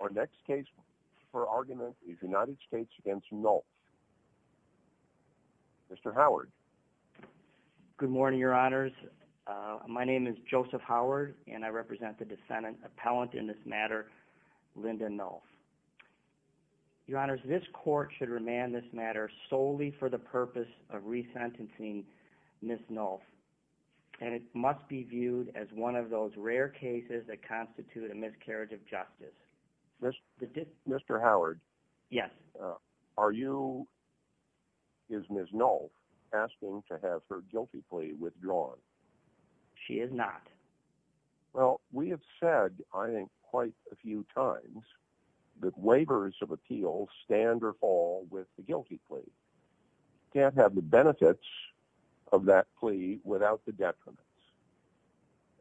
Our next case for argument is United States v. Nulf. Mr. Howard. Good morning, Your Honors. My name is Joseph Howard, and I represent the defendant appellant in this matter, Linda Nulf. Your Honors, this Court should remand this matter solely for the purpose of resentencing Ms. Nulf, and it must be viewed as one of those rare cases that constitute a miscarriage of justice. Mr. Howard, are you, is Ms. Nulf, asking to have her guilty plea withdrawn? She is not. Well, we have said, I think, quite a few times that waivers of appeals stand or fall with the guilty plea. You can't have the benefits of that plea without the detriments.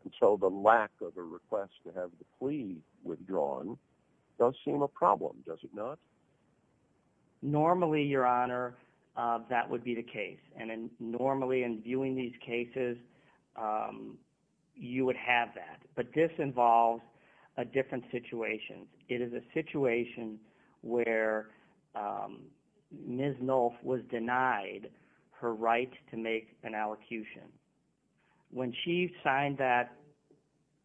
And so the lack of a request to have the plea withdrawn does seem a problem, does it not? Normally, Your Honor, that would be the case. And normally, in viewing these cases, you would have that. But this involves a different situation. It is a situation where Ms. Nulf was denied her right to make an allocution. When she signed that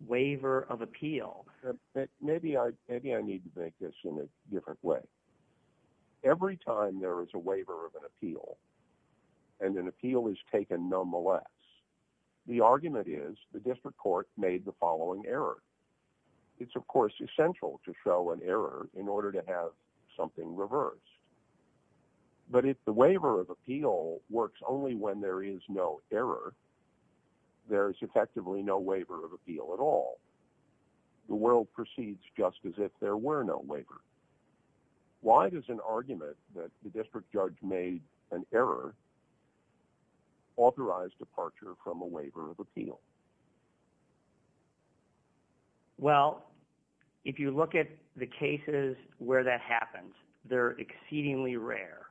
waiver of appeal... Maybe I need to make this in a different way. Every time there is a waiver of an appeal, and an appeal is taken nonetheless, the argument is the district court made the following error. It's, of course, essential to show an error in order to have something reversed. But if the waiver of appeal works only when there is no error, there is effectively no waiver of appeal at all. The world proceeds just as if there were no waiver. Why does an argument that the district judge made an error authorize departure from a waiver of appeal? Well, if you look at the cases where that happens, they're exceedingly rare.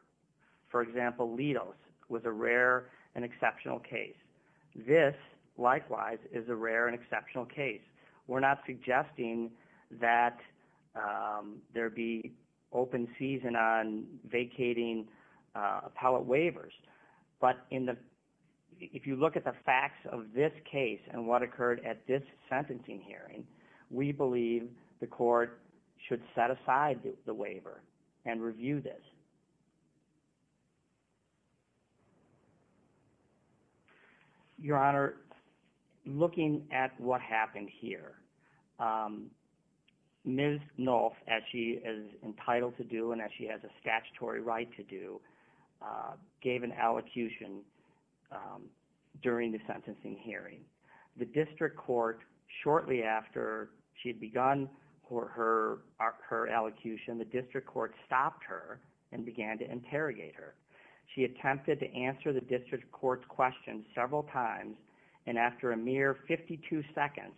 For example, Litos was a rare and exceptional case. This, likewise, is a rare and exceptional case. We're not suggesting that there be open season on vacating appellate waivers. But if you look at the facts of this case and what occurred at this sentencing hearing, we believe the court should set aside the waiver and review this. Your Honor, looking at what happened here, Ms. Nolff, as she is entitled to do and as she has a statutory right to do, gave an elocution during the sentencing hearing. The district court shortly after she had begun her elocution, the district court stopped her and began to interrogate her. She attempted to answer the district court's question several times, and after a mere 52 seconds,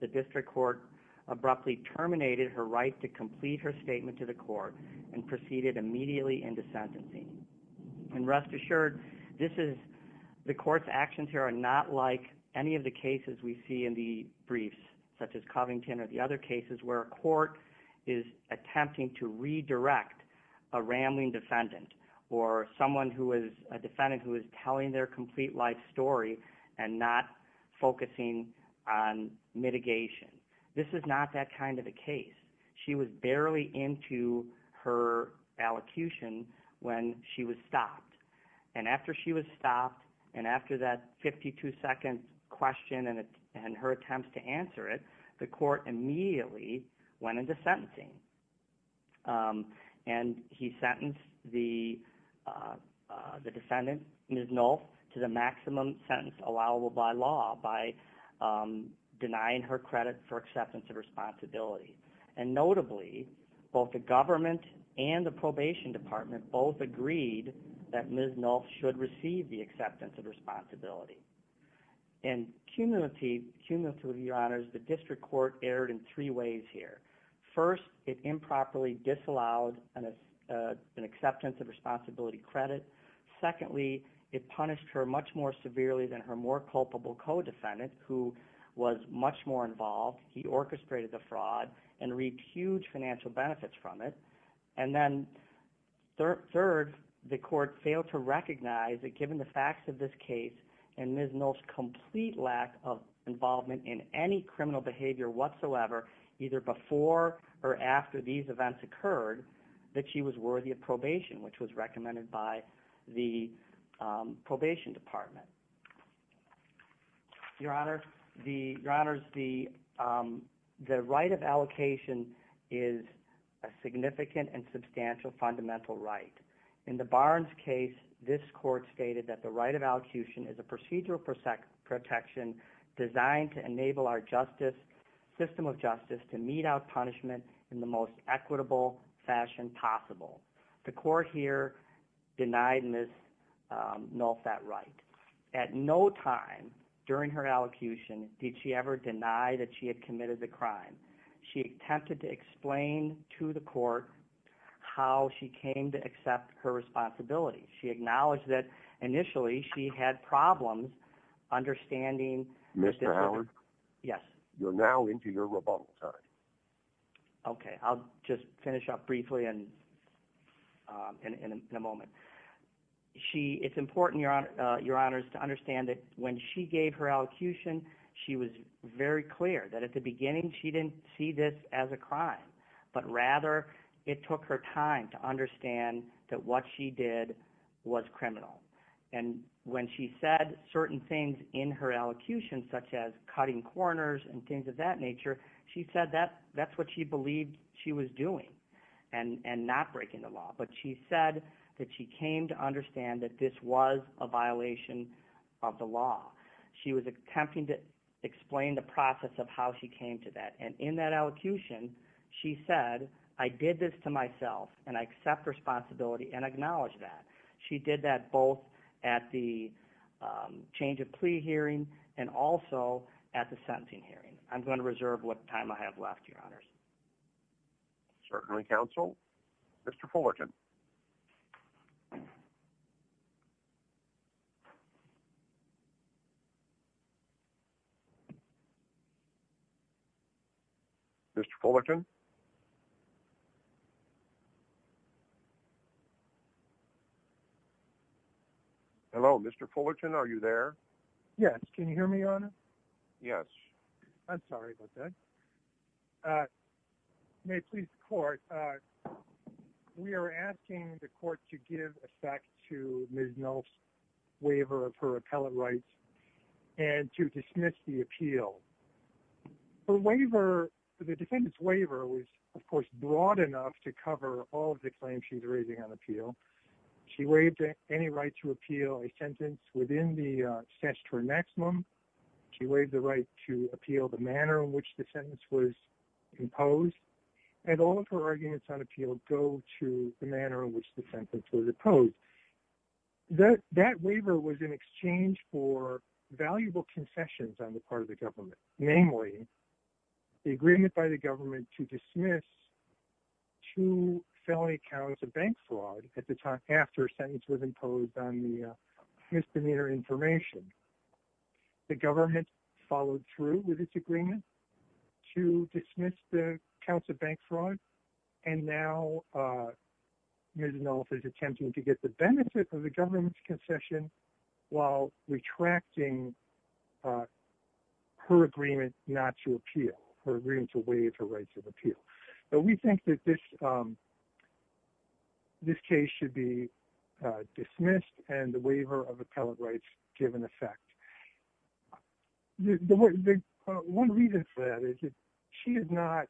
the district court abruptly terminated her right to complete her statement to the court and proceeded immediately into sentencing. And rest assured, the court's actions here are not like any of the cases we see in the briefs, such as Covington or the other cases where a court is attempting to redirect a rambling defendant or a defendant who is telling their complete life story and not focusing on mitigation. This is not that kind of a case. She was barely into her elocution when she was stopped. And after she was stopped and after that 52-second question and her attempts to answer it, the court immediately went into sentencing. And he sentenced the defendant, Ms. Nolff, to the maximum sentence allowable by law by denying her credit for probation. The district court erred in three ways here. First, it improperly disallowed an acceptance of responsibility credit. Secondly, it punished her much more severely than her more culpable co-defendant, who was much more involved. He orchestrated the fraud and reaped huge financial benefits from it. And then third, the court failed to recognize that given the facts of this case and Ms. Nolff's complete lack of involvement in any criminal behavior whatsoever, either before or after these events occurred, that she was worthy of probation, which was recommended by the probation department. Your Honor, the right of allocation is a significant and substantial fundamental right. In the Barnes case, this court stated that the right of allocution is a procedural protection designed to enable our justice, system of justice, to mete out punishment in the most equitable fashion possible. The court here denied Ms. Nolff that right. At no time during her allocution did she ever deny that she had committed the crime. She attempted to explain to the court how she came to accept her responsibility. She acknowledged that initially she had problems understanding... Yes. You're now into your rebuttal time. Okay, I'll just finish up briefly in a moment. It's important, Your Honors, to understand that when she gave her allocution, she was very clear that at the beginning she didn't see this as a crime, but rather it took her time to understand that what she did was criminal. And when she said certain things in her allocution, such as cutting corners and things of that nature, she said that's what she believed she was doing and not breaking the law. But she said that she came to understand that this was a violation of the law. She was attempting to explain the process of how she came to that. And in that allocution, she said, I did this to myself and I accept responsibility and I'm going to reserve what time I have left, Your Honors. Certainly, Counsel. Mr. Fullerton. Mr. Fullerton. Hello, Mr. Fullerton, are you there? Yes. Can you hear me, Your Honor? Yes. I'm sorry about that. May it please the Court, we are asking the Court to give effect to Ms. Nolf's waiver of her appellate rights and to dismiss the appeal. The defendant's waiver is a waiver of the defendant's right to of course, broad enough to cover all of the claims she's raising on appeal. She waived any right to appeal a sentence within the statutory maximum. She waived the right to appeal the manner in which the sentence was imposed. And all of her arguments on appeal go to the manner in which the sentence was imposed. That waiver was in exchange for valuable confessions on the part of the government. Namely, the agreement by the government to dismiss two felony counts of bank fraud at the time after a sentence was imposed on the misdemeanor information. The government followed through with its agreement to dismiss the counts of bank fraud. And now, Ms. Nolf is attempting to get the benefit of her agreement not to appeal, her agreement to waive her rights of appeal. But we think that this case should be dismissed and the waiver of appellate rights given effect. One reason for that is that she did not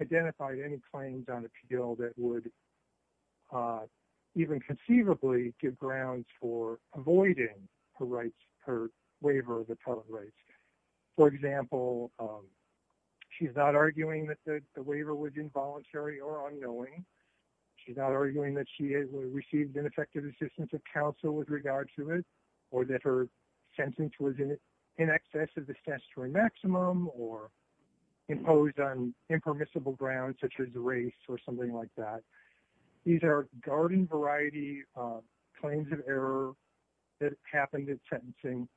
identify any claims on appeal that would even conceivably give grounds for avoiding her rights, her waiver of appellate rights. For example, she's not arguing that the waiver was involuntary or unknowing. She's not arguing that she received ineffective assistance of counsel with regard to it, or that her sentence was in excess of the statutory maximum, or imposed on impermissible grounds such as race or something like that. These are garden variety claims of error that happened in sentencing,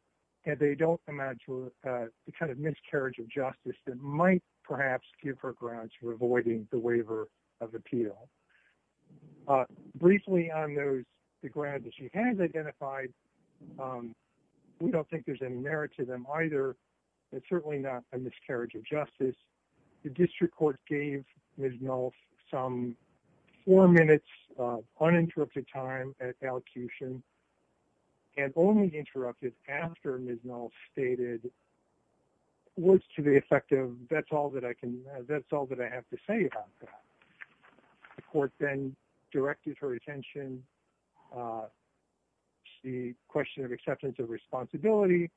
and they don't amount to the kind of miscarriage of justice that might perhaps give her grounds for avoiding the waiver of appeal. Briefly on the grounds that she has identified, we don't think there's any merit to them either. It's certainly not a miscarriage of justice. I believe Ms. Nolf some four minutes of uninterrupted time at elocution and only interrupted after Ms. Nolf stated words to the effect of, that's all that I can, that's all that I have to say about that. The court then directed her attention to the question of acceptance of responsibility.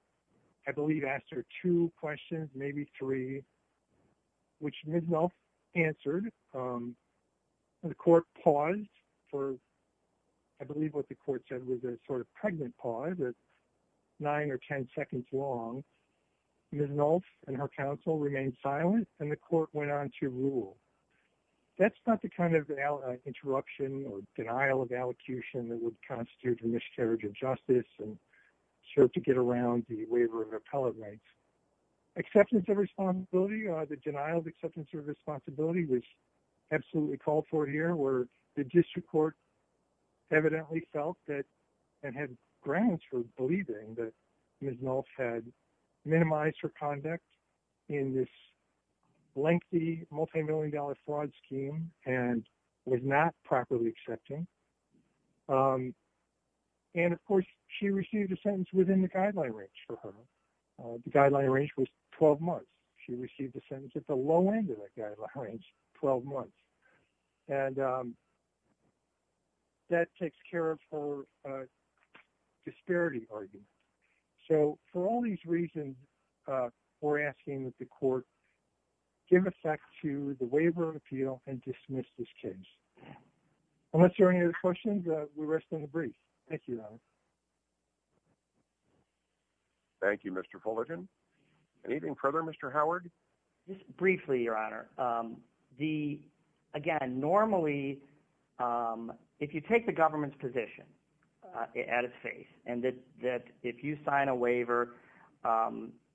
I believe asked her two questions, maybe three, which Ms. Nolf answered. The court paused for, I believe what the court said was a sort of pregnant pause, nine or ten seconds long. Ms. Nolf and her counsel remained silent, and the court went on to rule. That's not the kind of interruption or denial of elocution that would constitute a miscarriage of the waiver of appellate rights. Acceptance of responsibility or the denial of acceptance of responsibility was absolutely called for here where the district court evidently felt that, and had grounds for believing that Ms. Nolf had minimized her conduct in this lengthy multimillion dollar fraud scheme and was not properly accepting. And of course, she received a sentence within the guideline range for her. The guideline range was 12 months. She received a sentence at the low end of that guideline range, 12 months. And that takes care of her disparity argument. So for all these reasons, we're asking that the court give effect to the waiver of appeal and dismiss this case. Unless there are any other questions, we rest in a brief. Thank you, Your Honor. Thank you, Mr. Fullerton. Anything further, Mr. Howard? Just briefly, Your Honor. Again, normally, if you take the government's position at its face and that if you sign a waiver,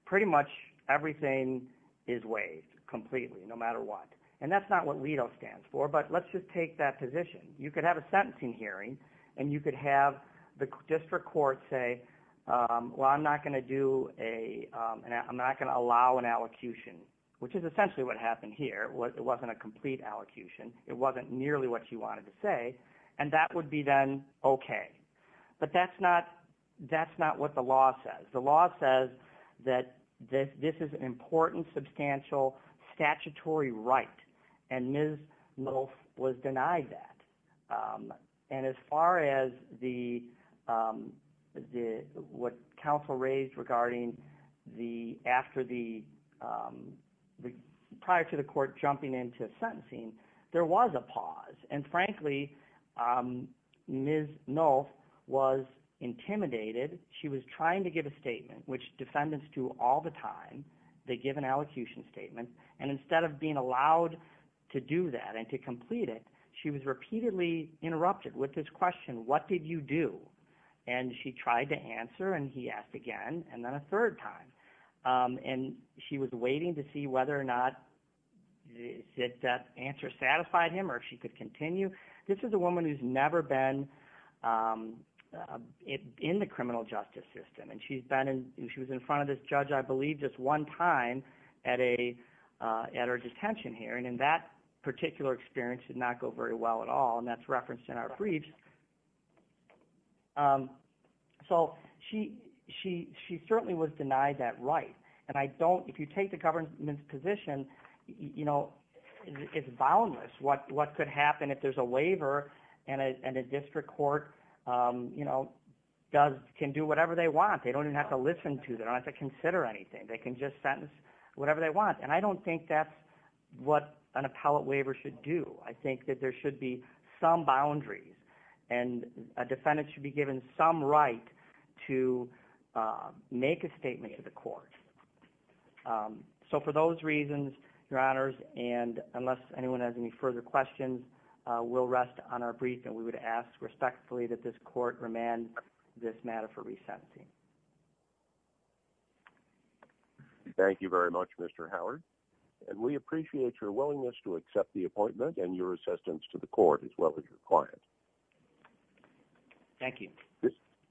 pretty much everything is waived completely, no matter what. And that's not what LIDO stands for. But let's just take that position. You could have a sentencing hearing, and you could have the district court say, well, I'm not going to allow an allocution, which is essentially what happened here. It wasn't a complete allocution. It wasn't nearly what you wanted to say. And that would be then okay. But that's not what the law says. The law says that this is an important, substantial, statutory right. And Ms. Nolf was denied that. And as far as what counsel raised regarding after the – prior to the court jumping into sentencing, there was a pause. And frankly, Ms. Nolf was intimidated. She was trying to give a statement, which defendants do all the time. They give an allocution statement. And instead of being allowed to do that and to complete it, she was repeatedly interrupted with this question, what did you do? And she tried to answer, and he asked again, and then a third time. And she was waiting to see whether or not that answer satisfied him or if she could continue. This is a woman who's never been in the criminal justice system. And she's been in – she was in front of this judge, I believe, just one time at a – at her detention hearing. And that particular experience did not go very well at all. And that's referenced in our briefs. So she certainly was denied that right. And I don't – if you take the government's position, it's boundless what could happen if there's a waiver and a district court you know, does – can do whatever they want. They don't even have to listen to. They don't have to consider anything. They can just sentence whatever they want. And I don't think that's what an appellate waiver should do. I think that there should be some boundaries. And a defendant should be given some right to make a statement to the court. So for those reasons, Your Honors, and unless anyone has any further questions, we'll rest on our brief. And we would ask respectfully that this court remand this matter for resentencing. Thank you very much, Mr. Howard. And we appreciate your willingness to accept the appointment and your assistance to the court as well as your client. Thank you.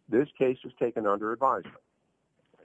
This case is taken under advisement.